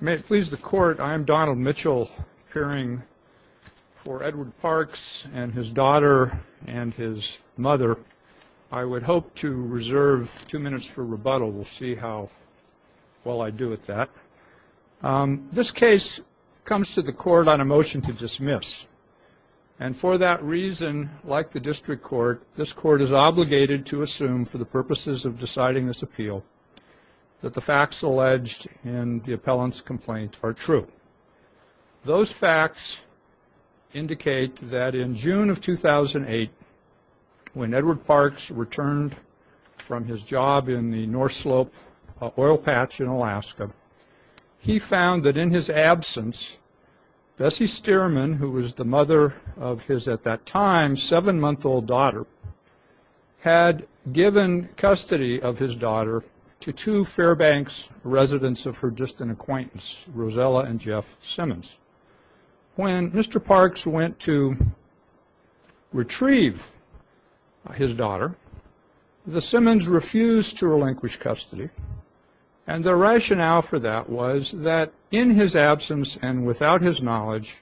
May it please the Court, I am Donald Mitchell, appearing for Edward Parks and his daughter and his mother. I would hope to reserve two minutes for rebuttal. We'll see how well I do at that. This case comes to the Court on a motion to dismiss. And for that reason, like the district court, this Court is obligated to assume, for the purposes of deciding this appeal, that the facts alleged in the appellant's complaint are true. Those facts indicate that in June of 2008, when Edward Parks returned from his job in the North Slope oil patch in Alaska, he found that in his absence, Bessie Stearman, who was the mother of his at that time seven-month-old daughter, had given custody of his daughter to two Fairbanks residents of her distant acquaintance, Rosella and Jeff Simmons. When Mr. Parks went to retrieve his daughter, the Simmons refused to relinquish custody. And the rationale for that was that in his absence and without his knowledge,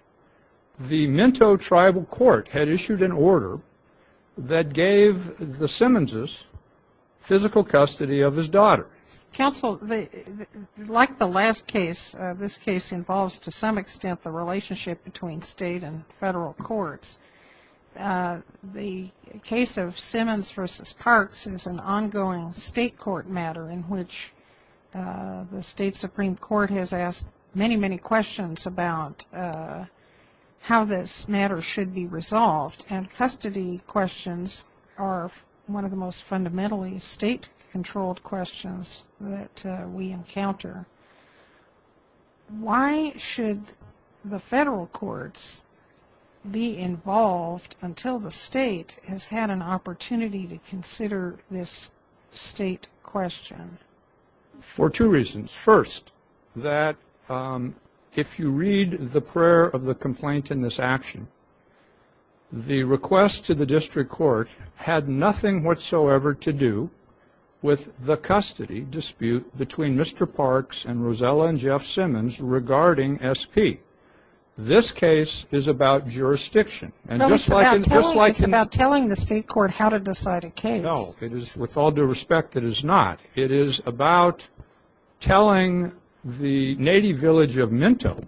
the Minto Tribal Court had issued an order that gave the Simmonses physical custody of his daughter. Counsel, like the last case, this case involves to some extent the relationship between state and federal courts. The case of Simmons v. Parks is an ongoing state court matter in which the state Supreme Court has asked many, many questions about how this matter should be resolved. And custody questions are one of the most fundamentally state-controlled questions that we encounter. Why should the federal courts be involved until the state has had an opportunity to consider this state question? For two reasons. First, that if you read the prayer of the complaint in this action, the request to the district court had nothing whatsoever to do with the custody dispute between Mr. Parks and Rosella and Jeff Simmons regarding SP. This case is about jurisdiction. It's about telling the state court how to decide a case. No, with all due respect, it is not. It is about telling the native village of Minto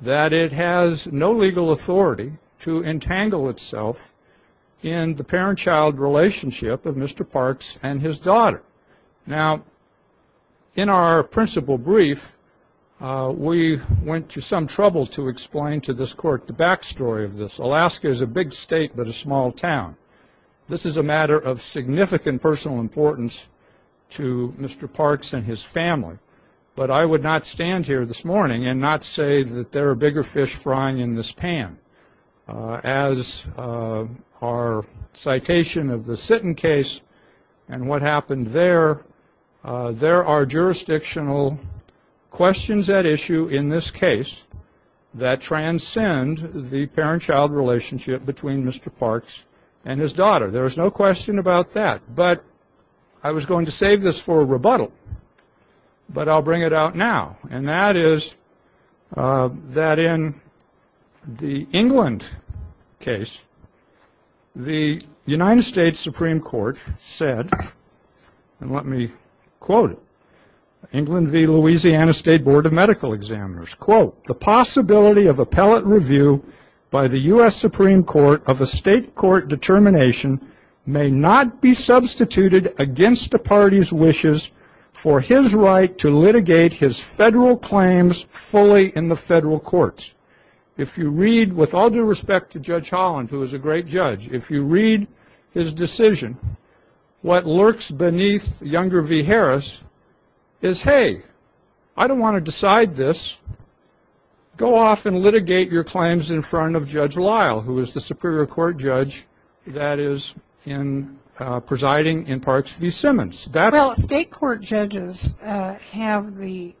that it has no legal authority to entangle itself in the parent-child relationship of Mr. Parks and his daughter. Now, in our principal brief, we went to some trouble to explain to this court the back story of this. Alaska is a big state but a small town. This is a matter of significant personal importance to Mr. Parks and his family. But I would not stand here this morning and not say that there are bigger fish frying in this pan. As our citation of the Sitton case and what happened there, there are jurisdictional questions at issue in this case that transcend the parent-child relationship between Mr. Parks and his daughter. There is no question about that. But I was going to save this for a rebuttal, but I'll bring it out now. And that is that in the England case, the United States Supreme Court said, and let me quote it, England v. Louisiana State Board of Medical Examiners, quote, the possibility of appellate review by the U.S. Supreme Court of a state court determination may not be substituted against the party's wishes for his right to litigate his federal claims fully in the federal courts. If you read, with all due respect to Judge Holland, who is a great judge, if you read his decision, what lurks beneath Younger v. Harris is, hey, I don't want to decide this. Go off and litigate your claims in front of Judge Lyle, who is the Superior Court judge that is presiding in Parks v. Simmons. Well, state court judges have the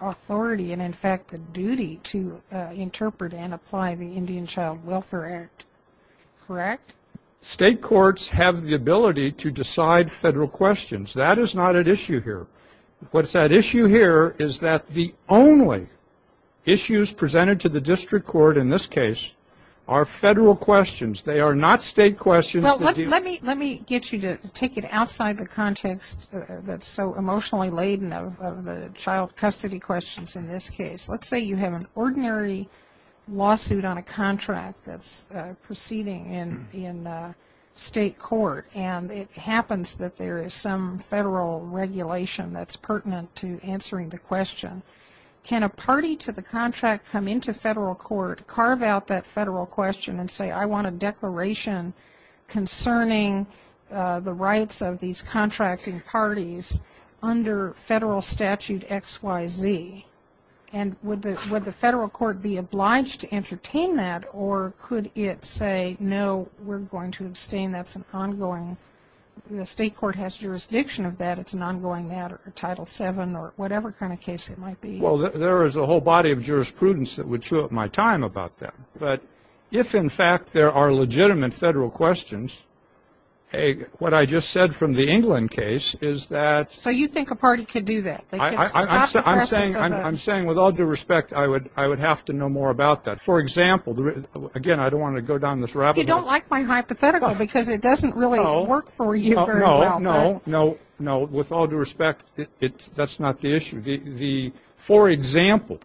authority and, in fact, the duty to interpret and apply the Indian Child Welfare Act, correct? State courts have the ability to decide federal questions. That is not at issue here. What's at issue here is that the only issues presented to the district court in this case are federal questions. They are not state questions. Well, let me get you to take it outside the context that's so emotionally laden of the child custody questions in this case. Let's say you have an ordinary lawsuit on a contract that's proceeding in state court, and it happens that there is some federal regulation that's pertinent to answering the question. Can a party to the contract come into federal court, carve out that federal question, and say, I want a declaration concerning the rights of these contracting parties under federal statute XYZ? And would the federal court be obliged to entertain that, or could it say, no, we're going to abstain? That's an ongoing ‑‑ the state court has jurisdiction of that. It's an ongoing matter, Title VII or whatever kind of case it might be. Well, there is a whole body of jurisprudence that would chew up my time about that. But if, in fact, there are legitimate federal questions, what I just said from the England case is that ‑‑ So you think a party could do that? I'm saying with all due respect, I would have to know more about that. For example, again, I don't want to go down this rabbit hole. You don't like my hypothetical because it doesn't really work for you very well. No, no, no. With all due respect, that's not the issue. For example,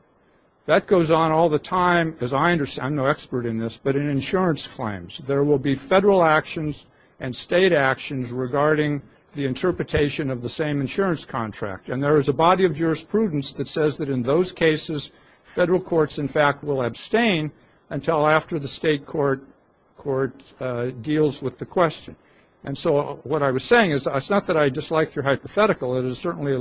that goes on all the time, as I understand, I'm no expert in this, but in insurance claims. There will be federal actions and state actions regarding the interpretation of the same insurance contract. And there is a body of jurisprudence that says that in those cases, federal courts, in fact, will abstain until after the state court deals with the question. And so what I was saying is it's not that I dislike your hypothetical. It is certainly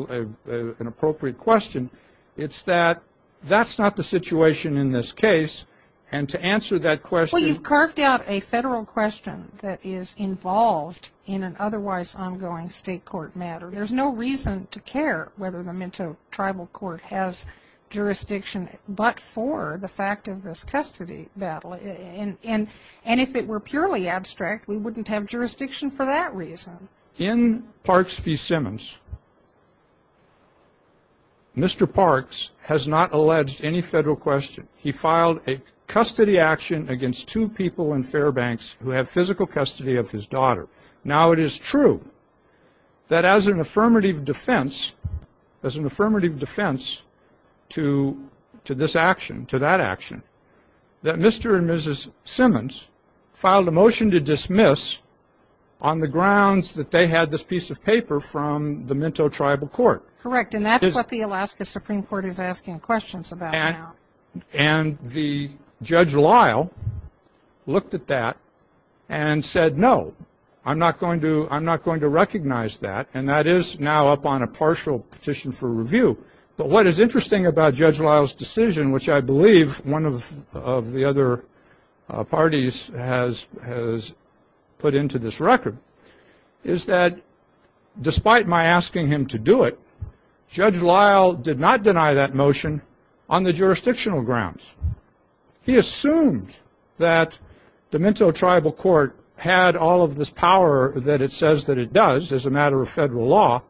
an appropriate question. It's that that's not the situation in this case. And to answer that question ‑‑ Well, you've carved out a federal question that is involved in an otherwise ongoing state court matter. There's no reason to care whether the Mento Tribal Court has jurisdiction but for the fact of this custody battle. And if it were purely abstract, we wouldn't have jurisdiction for that reason. In Parks v. Simmons, Mr. Parks has not alleged any federal question. He filed a custody action against two people in Fairbanks who have physical custody of his daughter. Now, it is true that as an affirmative defense to this action, to that action, that Mr. and Mrs. Simmons filed a motion to dismiss on the grounds that they had this piece of paper from the Mento Tribal Court. Correct. And that's what the Alaska Supreme Court is asking questions about now. And Judge Lyle looked at that and said, no, I'm not going to recognize that. And that is now up on a partial petition for review. But what is interesting about Judge Lyle's decision, which I believe one of the other parties has put into this record, is that despite my asking him to do it, Judge Lyle did not deny that motion on the jurisdictional grounds. He assumed that the Mento Tribal Court had all of this power that it says that it does as a matter of federal law.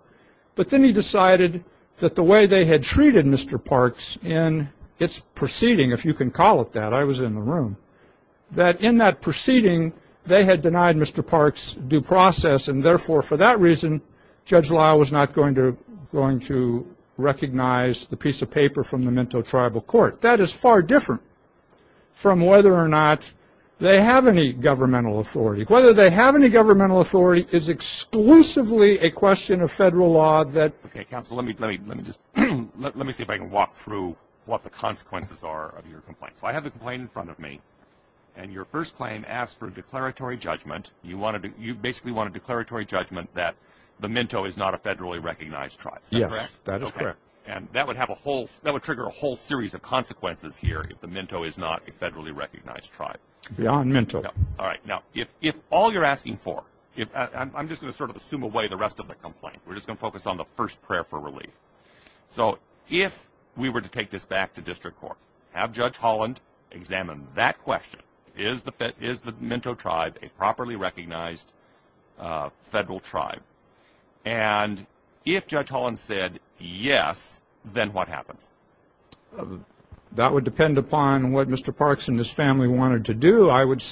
But then he decided that the way they had treated Mr. Parks in its proceeding, if you can call it that, I was in the room, that in that proceeding, they had denied Mr. Parks due process. And, therefore, for that reason, Judge Lyle was not going to recognize the piece of paper from the Mento Tribal Court. That is far different from whether or not they have any governmental authority. Whether they have any governmental authority is exclusively a question of federal law. Okay, counsel, let me see if I can walk through what the consequences are of your complaint. So I have the complaint in front of me, and your first claim asks for a declaratory judgment. You basically want a declaratory judgment that the Mento is not a federally recognized tribe. Is that correct? Yes, that is correct. And that would trigger a whole series of consequences here if the Mento is not a federally recognized tribe. Beyond Mento. All right. Now, if all you're asking for – I'm just going to sort of assume away the rest of the complaint. We're just going to focus on the first prayer for relief. So if we were to take this back to district court, have Judge Holland examine that question. Is the Mento tribe a properly recognized federal tribe? And if Judge Holland said yes, then what happens? That would depend upon what Mr. Parks and his family wanted to do. I would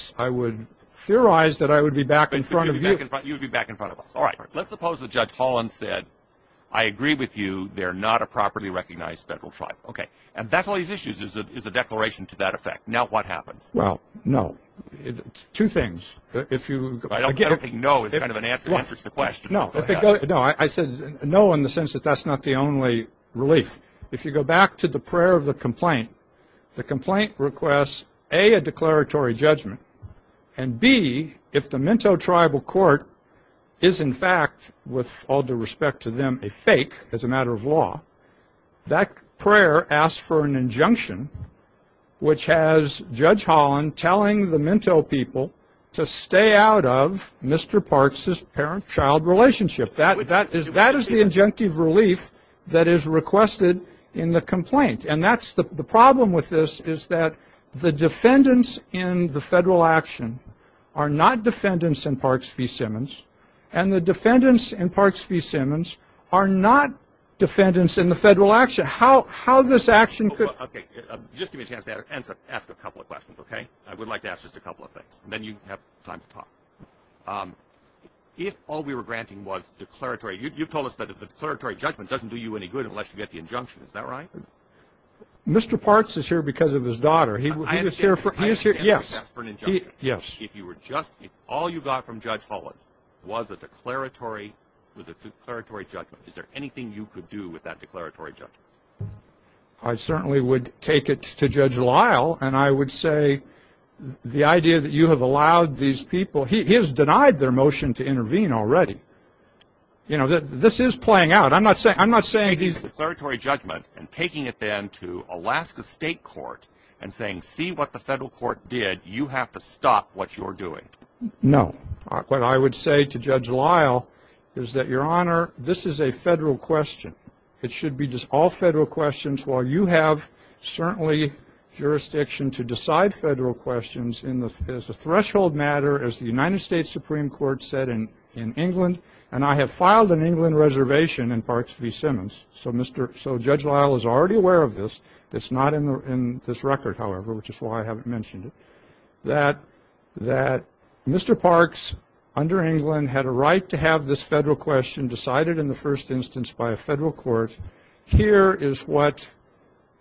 theorize that I would be back in front of you. You would be back in front of us. All right. Let's suppose that Judge Holland said, I agree with you. They're not a properly recognized federal tribe. Okay. And that's all these issues is a declaration to that effect. Now what happens? Well, no. Two things. If you – I don't think no is kind of an answer to the question. No. No. I said no in the sense that that's not the only relief. If you go back to the prayer of the complaint, the complaint requests, A, a declaratory judgment, and, B, if the Mento tribal court is, in fact, with all due respect to them, a fake as a matter of law, that prayer asks for an injunction which has Judge Holland telling the Mento people to stay out of Mr. Parks' parent-child relationship. That is the injunctive relief that is requested in the complaint. And that's the problem with this is that the defendants in the federal action are not defendants in Parks v. Simmons, and the defendants in Parks v. Simmons are not defendants in the federal action. How this action could – Okay. Just give me a chance to ask a couple of questions, okay? I would like to ask just a couple of things, and then you have time to talk. If all we were granting was declaratory – Mr. Parks is here because of his daughter. He was here for – I understand the request for an injunction. Yes. If you were just – if all you got from Judge Holland was a declaratory judgment, is there anything you could do with that declaratory judgment? I certainly would take it to Judge Lyle, and I would say the idea that you have allowed these people – he has denied their motion to intervene already. You know, this is playing out. I'm not saying he's – and saying, see what the federal court did. You have to stop what you're doing. No. What I would say to Judge Lyle is that, Your Honor, this is a federal question. It should be just all federal questions, while you have certainly jurisdiction to decide federal questions as a threshold matter, as the United States Supreme Court said in England, and I have filed an England reservation in Parks v. Simmons, so Judge Lyle is already aware of this. It's not in this record, however, which is why I haven't mentioned it. That Mr. Parks, under England, had a right to have this federal question decided in the first instance by a federal court. Here is what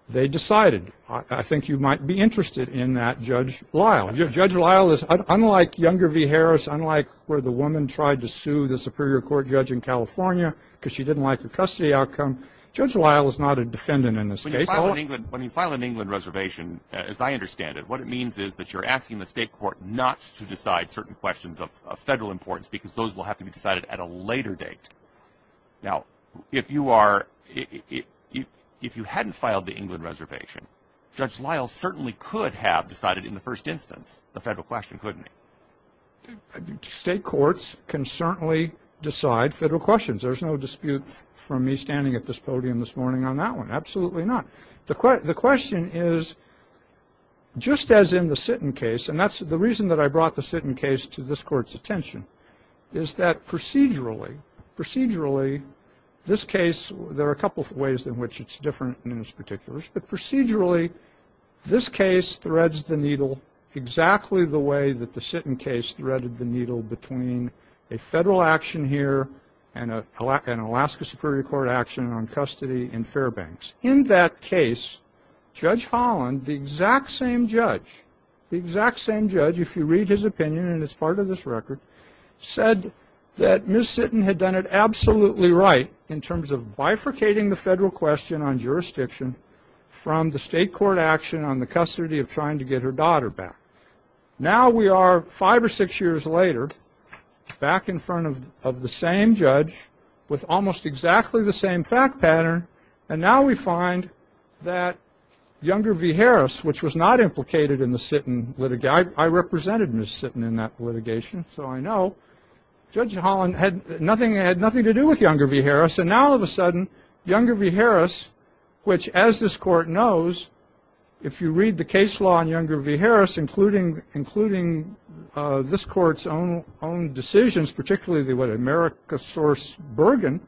they decided. I think you might be interested in that, Judge Lyle. Judge Lyle is – unlike Younger v. Harris, unlike where the woman tried to sue the Superior Court judge in California because she didn't like the custody outcome, Judge Lyle is not a defendant in this case. When you file an England reservation, as I understand it, what it means is that you're asking the state court not to decide certain questions of federal importance because those will have to be decided at a later date. Now, if you are – if you hadn't filed the England reservation, Judge Lyle certainly could have decided in the first instance the federal question, couldn't he? State courts can certainly decide federal questions. There's no dispute from me standing at this podium this morning on that one. Absolutely not. The question is, just as in the Sitton case, and that's the reason that I brought the Sitton case to this Court's attention, is that procedurally, procedurally, this case – there are a couple of ways in which it's different than in this particular case, but procedurally, this case threads the needle exactly the way that the Sitton case threaded the needle between a federal action here and an Alaska Superior Court action on custody in Fairbanks. In that case, Judge Holland, the exact same judge, the exact same judge, if you read his opinion, and it's part of this record, said that Ms. Sitton had done it absolutely right in terms of bifurcating the federal question on jurisdiction from the state court action on the custody of trying to get her daughter back. Now we are five or six years later back in front of the same judge with almost exactly the same fact pattern, and now we find that Younger v. Harris, which was not implicated in the Sitton litigation – I represented Ms. Sitton in that litigation, so I know – Judge Holland had nothing to do with Younger v. Harris, and now all of a sudden, Younger v. Harris, which, as this Court knows, if you read the case law on Younger v. Harris, including this Court's own decisions, particularly the America's Source Bergen,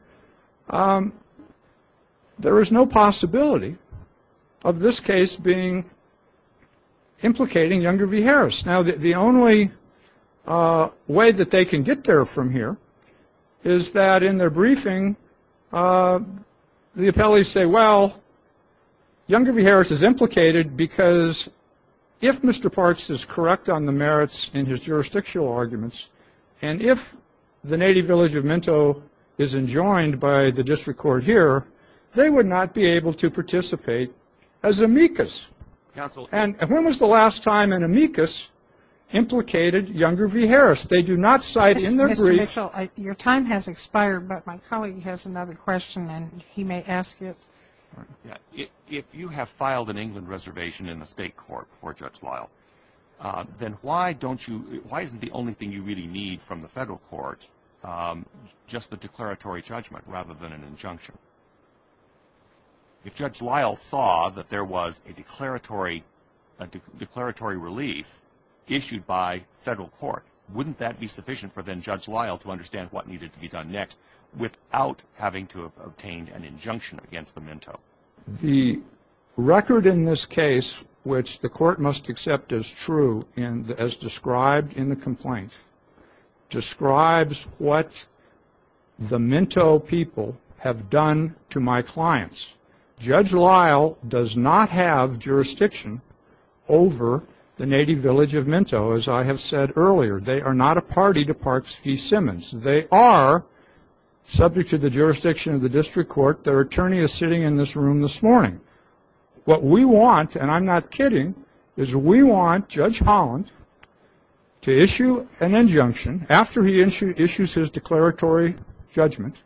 there is no possibility of this case implicating Younger v. Harris. Now the only way that they can get there from here is that in their briefing the appellees say, well, Younger v. Harris is implicated because if Mr. Parts is correct on the merits in his jurisdictional arguments and if the native village of Minto is enjoined by the district court here, they would not be able to participate as amicus. And when was the last time an amicus implicated Younger v. Harris? They do not cite in their brief – If you have filed an England reservation in the state court before Judge Lyle, then why don't you – why isn't the only thing you really need from the federal court just the declaratory judgment rather than an injunction? If Judge Lyle saw that there was a declaratory relief issued by federal court, wouldn't that be sufficient for then Judge Lyle to understand what needed to be done next without having to obtain an injunction against the Minto? The record in this case, which the court must accept as true as described in the complaint, describes what the Minto people have done to my clients. Judge Lyle does not have jurisdiction over the native village of Minto, as I have said earlier. They are not a party to Parks v. Simmons. They are subject to the jurisdiction of the district court. Their attorney is sitting in this room this morning. What we want, and I'm not kidding, is we want Judge Holland to issue an injunction after he issues his declaratory judgment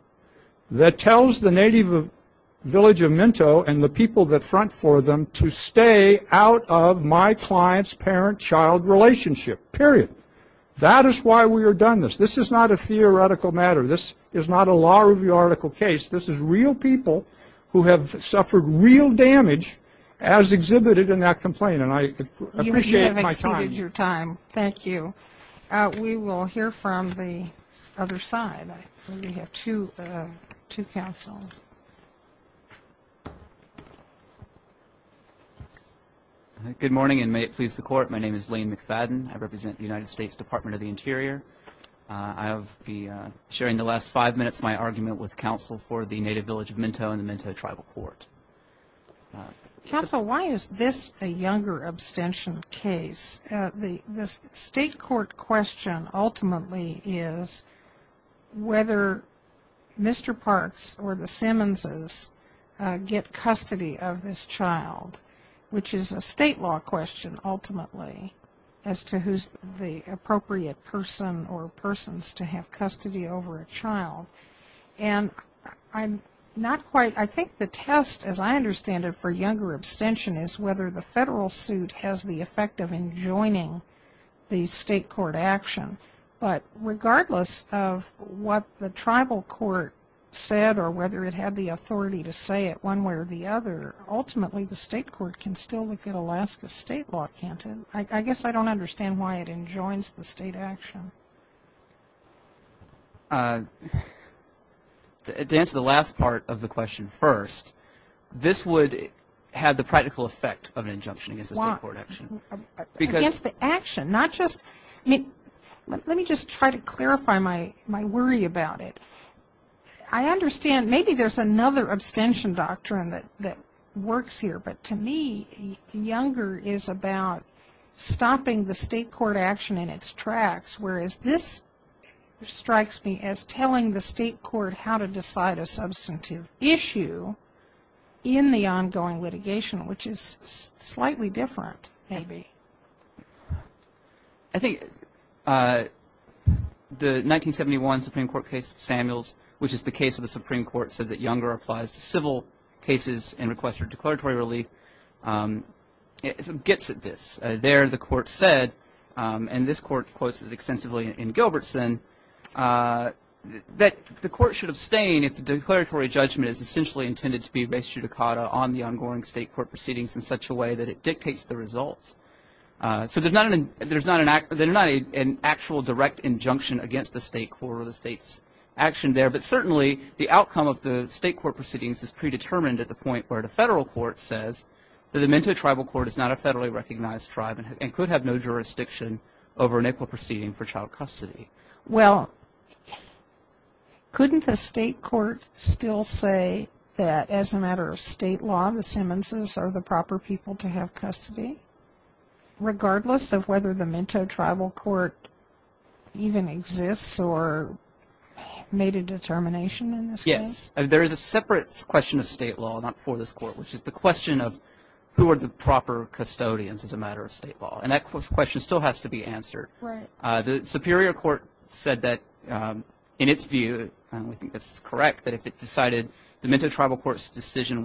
that tells the native village of Minto and the people that front for them to stay out of my client's parent-child relationship, period. That is why we have done this. This is not a theoretical matter. This is not a law review article case. This is real people who have suffered real damage as exhibited in that complaint, and I appreciate my time. You have exceeded your time. Thank you. We will hear from the other side. We have two counsels. Good morning, and may it please the Court. My name is Lane McFadden. I represent the United States Department of the Interior. I will be sharing the last five minutes of my argument with counsel for the native village of Minto and the Minto Tribal Court. Counsel, why is this a younger abstention case? The state court question ultimately is whether Mr. Parks or the Simmonses get custody of this child, which is a state law question ultimately as to who is the appropriate person or persons to have custody over a child. I think the test, as I understand it, for younger abstention is whether the federal suit has the effect of enjoining the state court action. But regardless of what the tribal court said or whether it had the authority to say it one way or the other, ultimately the state court can still look at Alaska's state law, can't it? I guess I don't understand why it enjoins the state action. To answer the last part of the question first, this would have the practical effect of an injunction against the state court action. Against the action, not just, I mean, let me just try to clarify my worry about it. I understand maybe there's another abstention doctrine that works here. But to me, younger is about stopping the state court action in its tracks, whereas this strikes me as telling the state court how to decide a substantive issue in the ongoing litigation, which is slightly different, maybe. I think the 1971 Supreme Court case of Samuels, which is the case of the Supreme Court, said that younger applies to civil cases and requests for declaratory relief. It gets at this. There the court said, and this court quotes it extensively in Gilbertson, that the court should abstain if the declaratory judgment is essentially intended to be res judicata on the ongoing state court proceedings in such a way that it dictates the results. So there's not an actual direct injunction against the state court or the state's action there, but certainly the outcome of the state court proceedings is predetermined at the point where the federal court says that the Mento tribal court is not a federally recognized tribe and could have no jurisdiction over an equal proceeding for child custody. Well, couldn't the state court still say that as a matter of state law, the Simmonses are the proper people to have custody, regardless of whether the Mento tribal court even exists or made a determination in this case? Yes. There is a separate question of state law, not for this court, which is the question of who are the proper custodians as a matter of state law, and that question still has to be answered. Right. The Superior Court said that in its view, and I think this is correct, that if it decided the Mento tribal court's decision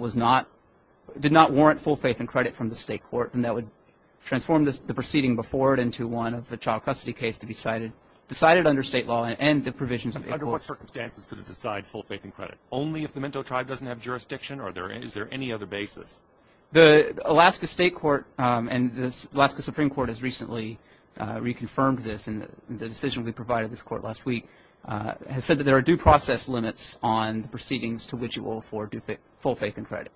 did not warrant full faith and credit from the state court, then that would transform the proceeding before it into one of a child custody case to be decided under state law and the provisions of the court. Under what circumstances could it decide full faith and credit? Only if the Mento tribe doesn't have jurisdiction, or is there any other basis? The Alaska state court and the Alaska Supreme Court has recently reconfirmed this, and the decision we provided this court last week has said that there are due process limits on the proceedings to which it will afford full faith and credit.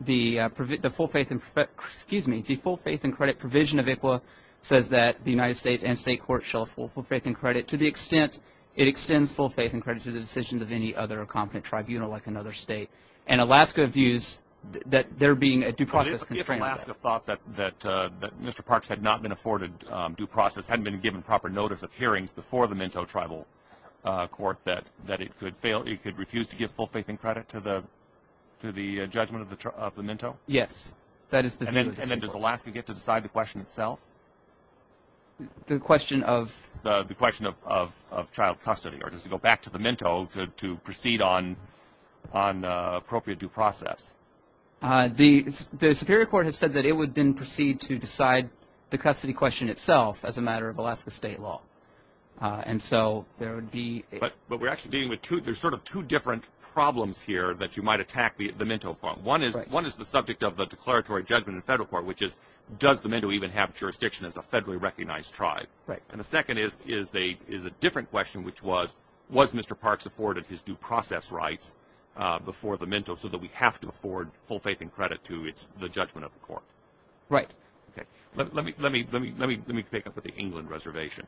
The full faith and credit provision of ICWA says that the United States and state court shall have full faith and credit to the extent it extends full faith and credit to the decisions of any other competent tribunal like another state. And Alaska views that there being a due process constraint. If Alaska thought that Mr. Parks had not been afforded due process, hadn't been given proper notice of hearings before the Mento tribal court, that it could refuse to give full faith and credit to the judgment of the Mento? Yes. And then does Alaska get to decide the question itself? The question of? Or does it go back to the Mento to proceed on appropriate due process? The Superior Court has said that it would then proceed to decide the custody question itself as a matter of Alaska state law. And so there would be – But we're actually dealing with two – there's sort of two different problems here that you might attack the Mento from. One is the subject of the declaratory judgment in federal court, which is does the Mento even have jurisdiction as a federally recognized tribe? Right. And the second is a different question, which was, was Mr. Parks afforded his due process rights before the Mento so that we have to afford full faith and credit to the judgment of the court? Right. Okay. Let me pick up with the England reservation.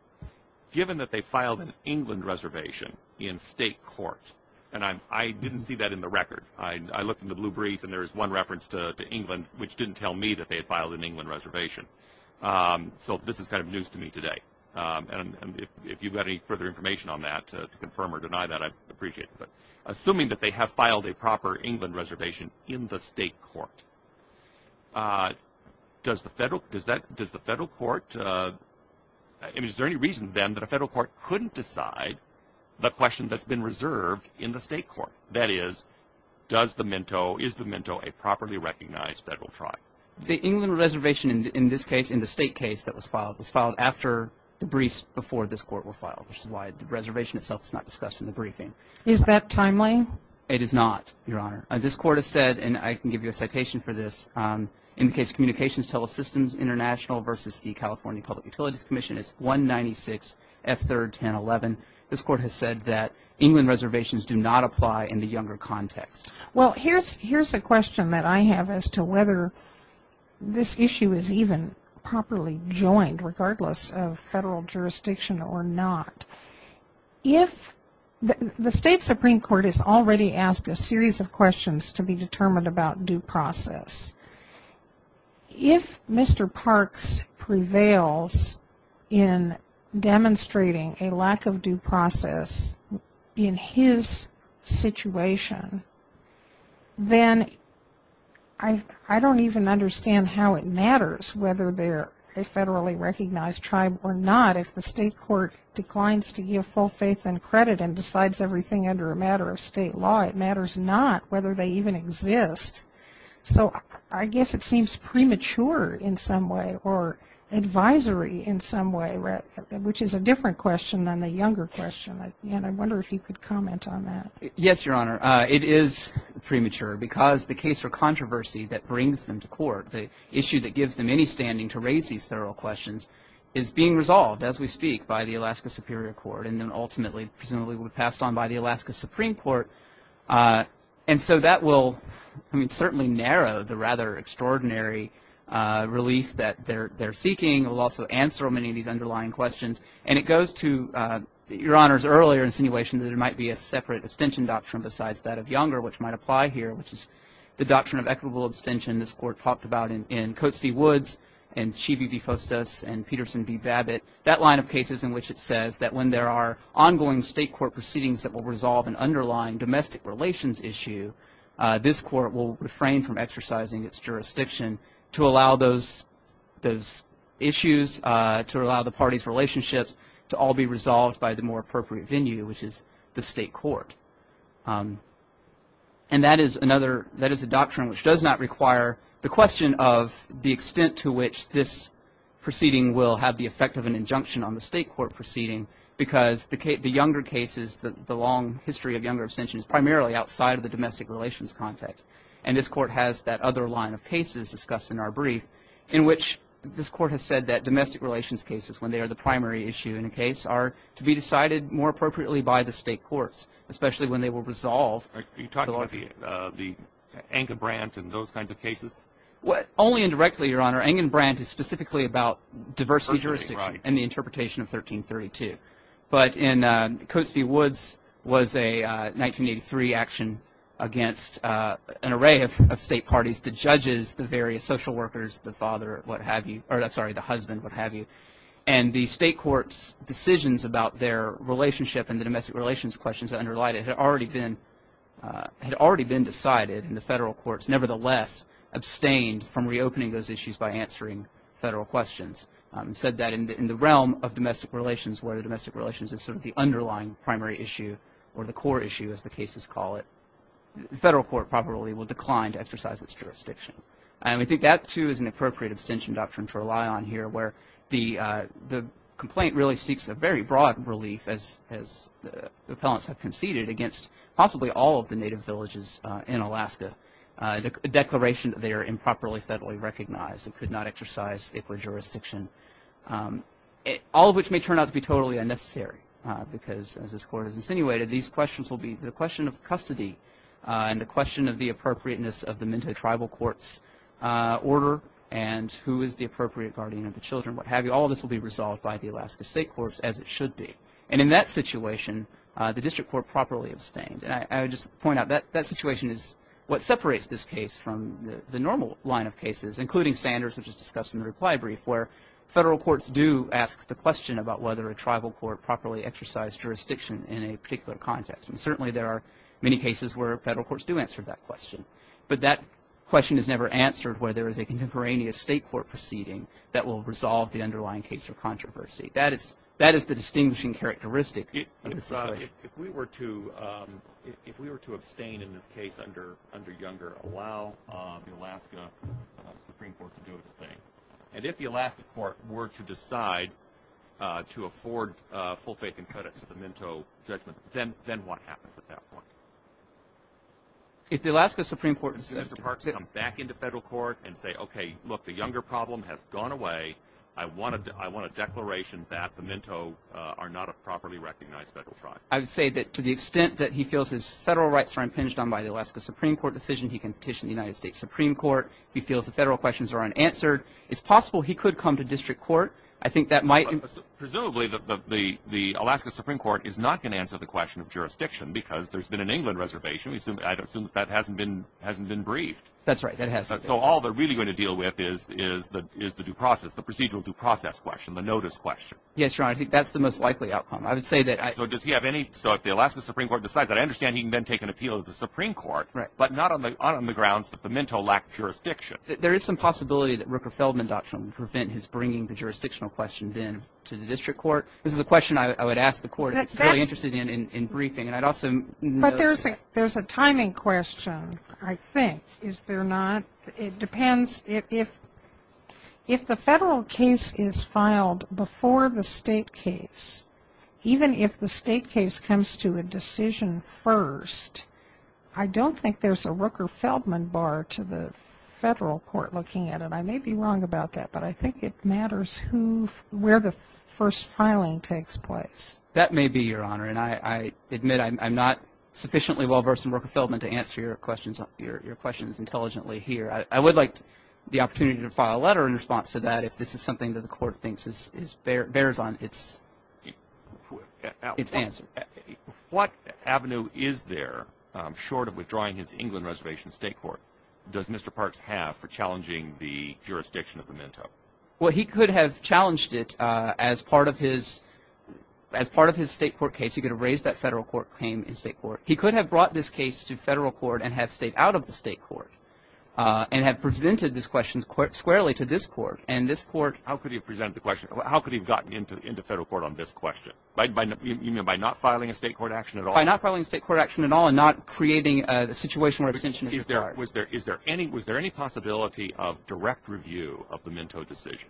Given that they filed an England reservation in state court, and I didn't see that in the record. I looked in the blue brief and there is one reference to England which didn't tell me that they had filed an England reservation. So this is kind of news to me today. And if you've got any further information on that to confirm or deny that, I'd appreciate it. But assuming that they have filed a proper England reservation in the state court, does the federal court – is there any reason then that a federal court couldn't decide the question that's been reserved in the state court? That is, does the Mento – is the Mento a properly recognized federal tribe? The England reservation in this case, in the state case that was filed, was filed after the briefs before this court were filed, which is why the reservation itself is not discussed in the briefing. Is that timely? It is not, Your Honor. This court has said, and I can give you a citation for this, in the case of Communications Telesystems International versus the California Public Utilities Commission, it's 196F3-1011. This court has said that England reservations do not apply in the younger context. Well, here's a question that I have as to whether this issue is even properly joined, regardless of federal jurisdiction or not. If – the state Supreme Court has already asked a series of questions to be determined about due process. If Mr. Parks prevails in demonstrating a lack of due process in his situation, then I don't even understand how it matters whether they're a federally recognized tribe or not. If the state court declines to give full faith and credit and decides everything under a matter of state law, it matters not whether they even exist. So I guess it seems premature in some way or advisory in some way, which is a different question than the younger question. And I wonder if you could comment on that. Yes, Your Honor. It is premature because the case or controversy that brings them to court, the issue that gives them any standing to raise these federal questions, is being resolved, as we speak, by the Alaska Superior Court and then ultimately presumably will be passed on by the Alaska Supreme Court. And so that will, I mean, certainly narrow the rather extraordinary relief that they're seeking. It will also answer many of these underlying questions. And it goes to Your Honor's earlier insinuation that it might be a separate abstention doctrine besides that of younger, which might apply here, which is the doctrine of equitable abstention. This Court talked about in Coates v. Woods and Chivy v. Fostos and Peterson v. Babbitt, that line of cases in which it says that when there are ongoing state court proceedings that will resolve an underlying domestic relations issue, this Court will refrain from exercising its jurisdiction to allow those issues, to allow the parties' relationships to all be resolved by the more appropriate venue, which is the state court. And that is a doctrine which does not require the question of the extent to which this proceeding will have the effect of an injunction on the state court proceeding, because the younger cases, the long history of younger abstention, is primarily outside of the domestic relations context. And this Court has that other line of cases discussed in our brief, in which this Court has said that domestic relations cases, when they are the primary issue in a case, are to be decided more appropriately by the state courts, especially when they will resolve the law. Are you talking about the Eng and Brandt and those kinds of cases? Only indirectly, Your Honor. Eng and Brandt is specifically about diversity jurisdiction and the interpretation of 1332. But in Coates v. Woods was a 1983 action against an array of state parties, the judges, the various social workers, the father, what have you, or I'm sorry, the husband, what have you. And the state court's decisions about their relationship and the domestic relations questions that underlie it had already been decided, and the federal courts nevertheless abstained from reopening those issues by answering federal questions. And said that in the realm of domestic relations, where the domestic relations is sort of the underlying primary issue or the core issue, as the cases call it, the federal court probably will decline to exercise its jurisdiction. And we think that, too, is an appropriate abstention doctrine to rely on here, where the complaint really seeks a very broad relief, as the appellants have conceded, against possibly all of the native villages in Alaska, the declaration that they are improperly federally recognized and could not exercise equal jurisdiction. All of which may turn out to be totally unnecessary, because as this Court has insinuated, these questions will be the question of custody and the question of the appropriateness of the Minto tribal court's order and who is the appropriate guardian of the children, what have you. All of this will be resolved by the Alaska State Courts, as it should be. And in that situation, the district court properly abstained. And I would just point out that that situation is what separates this case from the normal line of cases, including Sanders, which is discussed in the reply brief, where federal courts do ask the question about whether a tribal court properly exercised jurisdiction in a particular context. And certainly there are many cases where federal courts do answer that question. But that question is never answered where there is a contemporaneous state court proceeding that will resolve the underlying case or controversy. That is the distinguishing characteristic of this case. If we were to abstain in this case under Younger, allow the Alaska Supreme Court to do its thing, and if the Alaska court were to decide to afford full faith and credit to the Minto judgment, then what happens at that point? If the Alaska Supreme Court decided to come back into federal court and say, okay, look, the Younger problem has gone away, I want a declaration that the Minto are not a properly recognized federal tribe. I would say that to the extent that he feels his federal rights are impinged on by the Alaska Supreme Court decision, he can petition the United States Supreme Court. If he feels the federal questions are unanswered, it's possible he could come to district court. I think that might be. Presumably the Alaska Supreme Court is not going to answer the question of jurisdiction because there's been an England reservation. I assume that hasn't been briefed. That's right. So all they're really going to deal with is the due process. The procedural due process question, the notice question. Yes, Your Honor, I think that's the most likely outcome. I would say that I... So does he have any... So if the Alaska Supreme Court decides that, I understand he can then take an appeal to the Supreme Court, but not on the grounds that the Minto lack jurisdiction. There is some possibility that Rooker-Feldman doctrine would prevent his bringing the jurisdictional question then to the district court. This is a question I would ask the court if it's really interested in briefing, and I'd also... But there's a timing question, I think, is there not? It depends. If the federal case is filed before the state case, even if the state case comes to a decision first, I don't think there's a Rooker-Feldman bar to the federal court looking at it. I may be wrong about that, but I think it matters where the first filing takes place. That may be, Your Honor, and I admit I'm not sufficiently well-versed in Rooker-Feldman to answer your questions intelligently here. I would like the opportunity to file a letter in response to that if this is something that the court thinks bears on its answer. What avenue is there, short of withdrawing his England Reservation state court, does Mr. Parks have for challenging the jurisdiction of the Minto? Well, he could have challenged it as part of his state court case. He could have raised that federal court claim in state court. He could have brought this case to federal court and have stayed out of the state court and have presented this question squarely to this court. How could he have presented the question? How could he have gotten into federal court on this question? You mean by not filing a state court action at all? By not filing a state court action at all and not creating a situation where a detention is required. Was there any possibility of direct review of the Minto decision?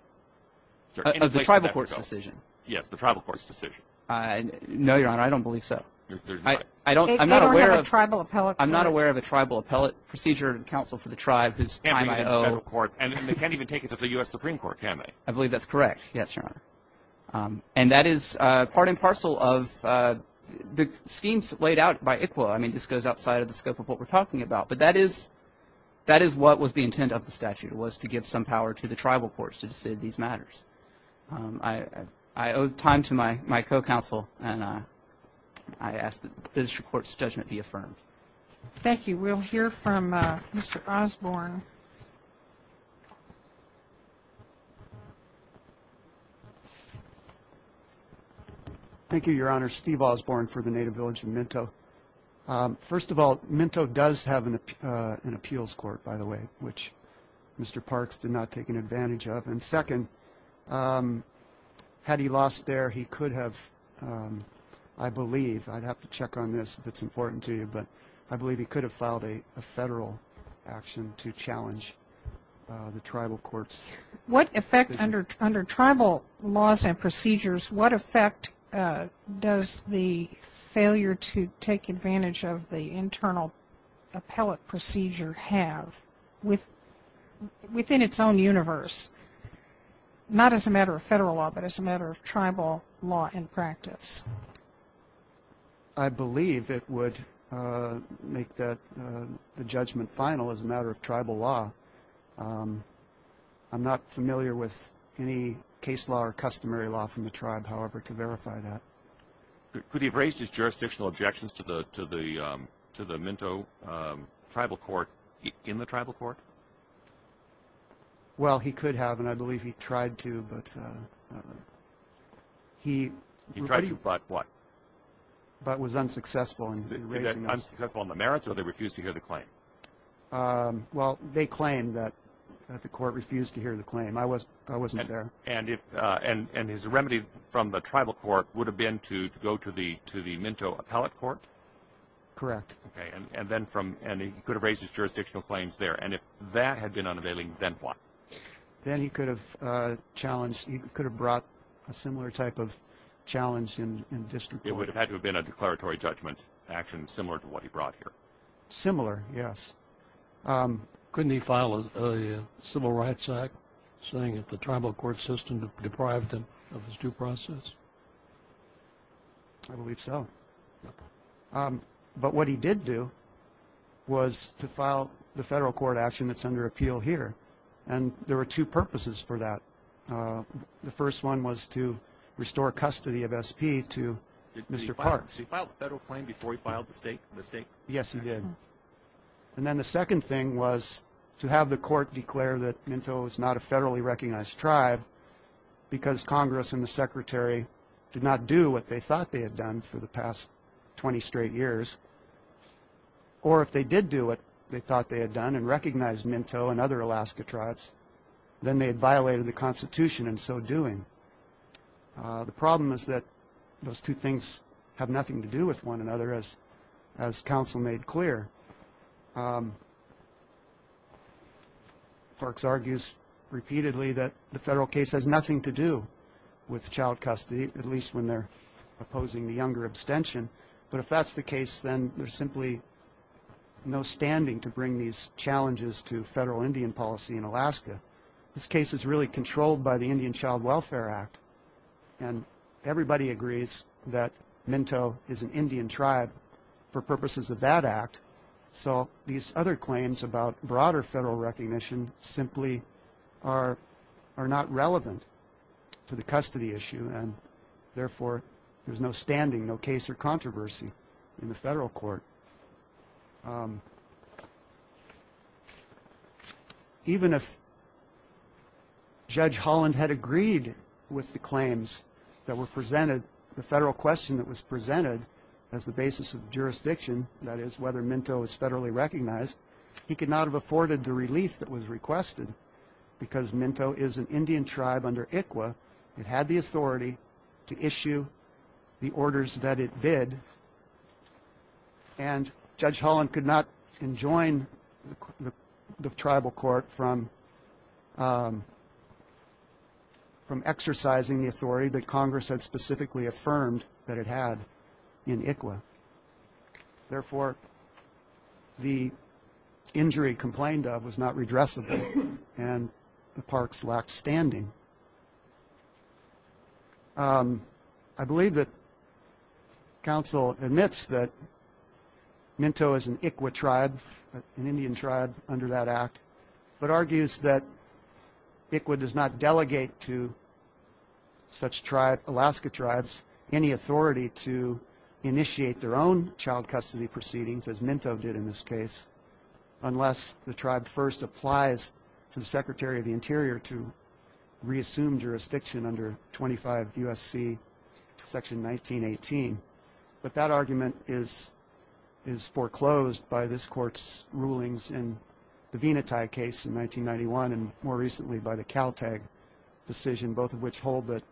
Of the tribal court's decision? Yes, the tribal court's decision. No, Your Honor, I don't believe so. They don't have a tribal appellate court? I'm not aware of a tribal appellate procedure counsel for the tribe whose time I owe. And they can't even take it to the U.S. Supreme Court, can they? I believe that's correct, yes, Your Honor. And that is part and parcel of the schemes laid out by ICWA. I mean, this goes outside of the scope of what we're talking about. But that is what was the intent of the statute, was to give some power to the tribal courts to decide these matters. I owe time to my co-counsel, and I ask that this court's judgment be affirmed. Thank you. We'll hear from Mr. Osborne. Thank you, Your Honor. Steve Osborne for the Native Village of Minto. First of all, Minto does have an appeals court, by the way, which Mr. Parks did not take an advantage of. And second, had he lost there, he could have, I believe, I'd have to check on this if it's important to you, but I believe he could have filed a federal action to challenge the tribal courts. What effect under tribal laws and procedures, what effect does the failure to take advantage of the internal appellate procedure have, within its own universe, not as a matter of federal law, but as a matter of tribal law in practice? I believe it would make the judgment final as a matter of tribal law. I'm not familiar with any case law or customary law from the tribe, however, to verify that. Could he have raised his jurisdictional objections to the Minto tribal court in the tribal court? Well, he could have, and I believe he tried to. He tried to, but what? But was unsuccessful in raising them. Unsuccessful in the merits, or they refused to hear the claim? Well, they claimed that the court refused to hear the claim. I wasn't there. And his remedy from the tribal court would have been to go to the Minto appellate court? Correct. And he could have raised his jurisdictional claims there, and if that had been unavailing, then what? Then he could have challenged, he could have brought a similar type of challenge in distant court. It would have had to have been a declaratory judgment action similar to what he brought here. Similar, yes. Couldn't he file a civil rights act saying that the tribal court system deprived him of his due process? I believe so. But what he did do was to file the federal court action that's under appeal here, and there were two purposes for that. The first one was to restore custody of SP to Mr. Parks. Did he file the federal claim before he filed the state? Yes, he did. And then the second thing was to have the court declare that Minto is not a federally recognized tribe because Congress and the Secretary did not do what they thought they had done for the past 20 straight years. Or if they did do what they thought they had done and recognized Minto and other Alaska tribes, then they had violated the Constitution in so doing. The problem is that those two things have nothing to do with one another, as counsel made clear. Parks argues repeatedly that the federal case has nothing to do with child custody, at least when they're opposing the younger abstention. But if that's the case, then there's simply no standing to bring these challenges to federal Indian policy in Alaska. This case is really controlled by the Indian Child Welfare Act, and everybody agrees that Minto is an Indian tribe for purposes of that act. So these other claims about broader federal recognition simply are not relevant to the custody issue, and therefore there's no standing, no case or controversy in the federal court. Even if Judge Holland had agreed with the claims that were presented, the federal question that was presented as the basis of jurisdiction, that is whether Minto is federally recognized, he could not have afforded the relief that was requested because Minto is an Indian tribe under ICWA. It had the authority to issue the orders that it did, and Judge Holland could not enjoin the tribal court from exercising the authority that Congress had specifically affirmed that it had in ICWA. Therefore, the injury complained of was not redressable, and the parks lacked standing. I believe that counsel admits that Minto is an ICWA tribe, an Indian tribe under that act, but argues that ICWA does not delegate to such Alaska tribes any authority to initiate their own child custody proceedings, as Minto did in this case, unless the tribe first applies to the Secretary of the Interior to reassume jurisdiction under 25 U.S.C. section 1918. But that argument is foreclosed by this court's rulings in the Venati case in 1991, and more recently by the Caltag decision, both of which hold that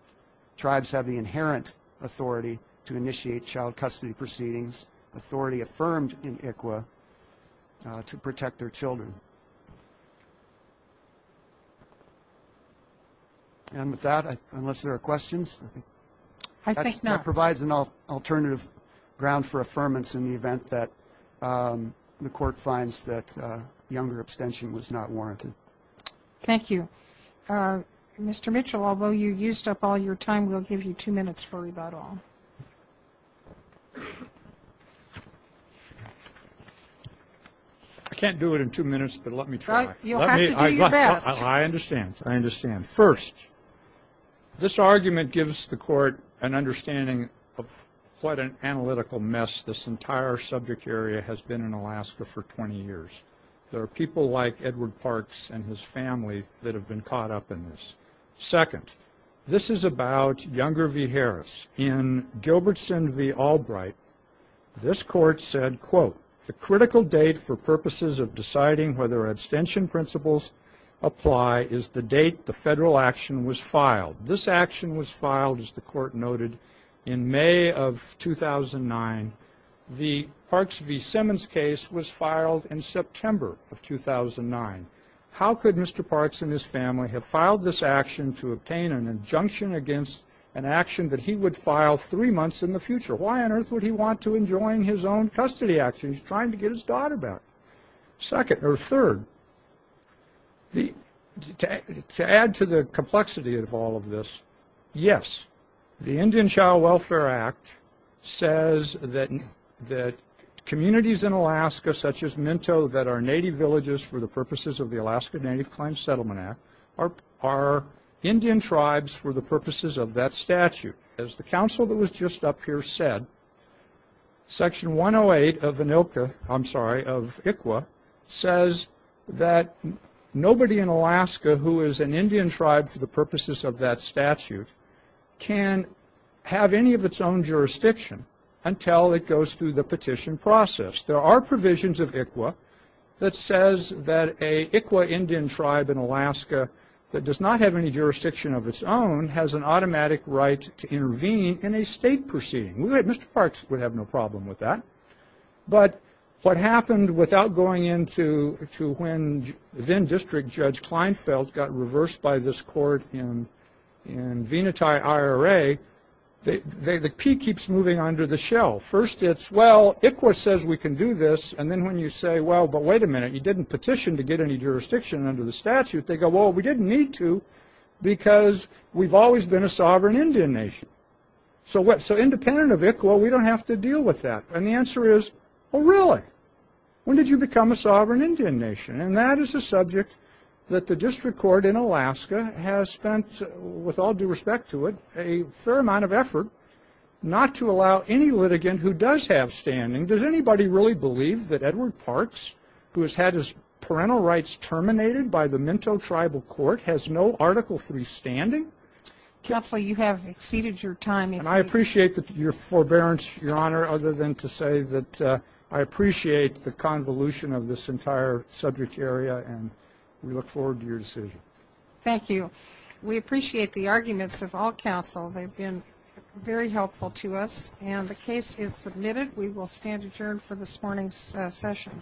tribes have the inherent authority to initiate child custody proceedings, authority affirmed in ICWA to protect their children. And with that, unless there are questions? That provides an alternative ground for affirmance in the event that the court finds that younger abstention was not warranted. Thank you. Mr. Mitchell, although you used up all your time, we'll give you two minutes for rebuttal. I can't do it in two minutes, but let me try. You'll have to do your best. I understand, I understand. First, this argument gives the court an understanding of what an analytical mess this entire subject area has been in Alaska for 20 years. There are people like Edward Parks and his family that have been caught up in this. Second, this is about Younger v. Harris. In Gilbertson v. Albright, this court said, quote, the critical date for purposes of deciding whether abstention principles apply is the date the federal action was filed. This action was filed, as the court noted, in May of 2009. The Parks v. Simmons case was filed in September of 2009. How could Mr. Parks and his family have filed this action to obtain an injunction against an action that he would file three months in the future? Why on earth would he want to enjoin his own custody action? He's trying to get his daughter back. Third, to add to the complexity of all of this, yes, the Indian Child Welfare Act says that communities in Alaska, such as Minto, that are native villages for the purposes of the Alaska Native Claims Settlement Act, are Indian tribes for the purposes of that statute. As the counsel that was just up here said, Section 108 of Inilka, I'm sorry, of ICWA, says that nobody in Alaska who is an Indian tribe for the purposes of that statute can have any of its own jurisdiction until it goes through the petition process. There are provisions of ICWA that says that an ICWA Indian tribe in Alaska that does not have any jurisdiction of its own has an automatic right to intervene in a state proceeding. Mr. Parks would have no problem with that. But what happened, without going into when then-District Judge Kleinfeld got reversed by this court in Venati, IRA, the P keeps moving under the shell. First it's, well, ICWA says we can do this, and then when you say, well, but wait a minute, you didn't petition to get any jurisdiction under the statute, they go, well, we didn't need to, because we've always been a sovereign Indian nation. So independent of ICWA, we don't have to deal with that. And the answer is, well, really, when did you become a sovereign Indian nation? And that is a subject that the District Court in Alaska has spent, with all due respect to it, a fair amount of effort not to allow any litigant who does have standing, does anybody really believe that Edward Parks, who has had his parental rights terminated by the Minto Tribal Court, has no Article III standing? Counsel, you have exceeded your time. And I appreciate your forbearance, Your Honor, other than to say that I appreciate the convolution of this entire subject area, and we look forward to your decision. Thank you. We appreciate the arguments of all counsel. They've been very helpful to us. And the case is submitted. We will stand adjourned for this morning's session.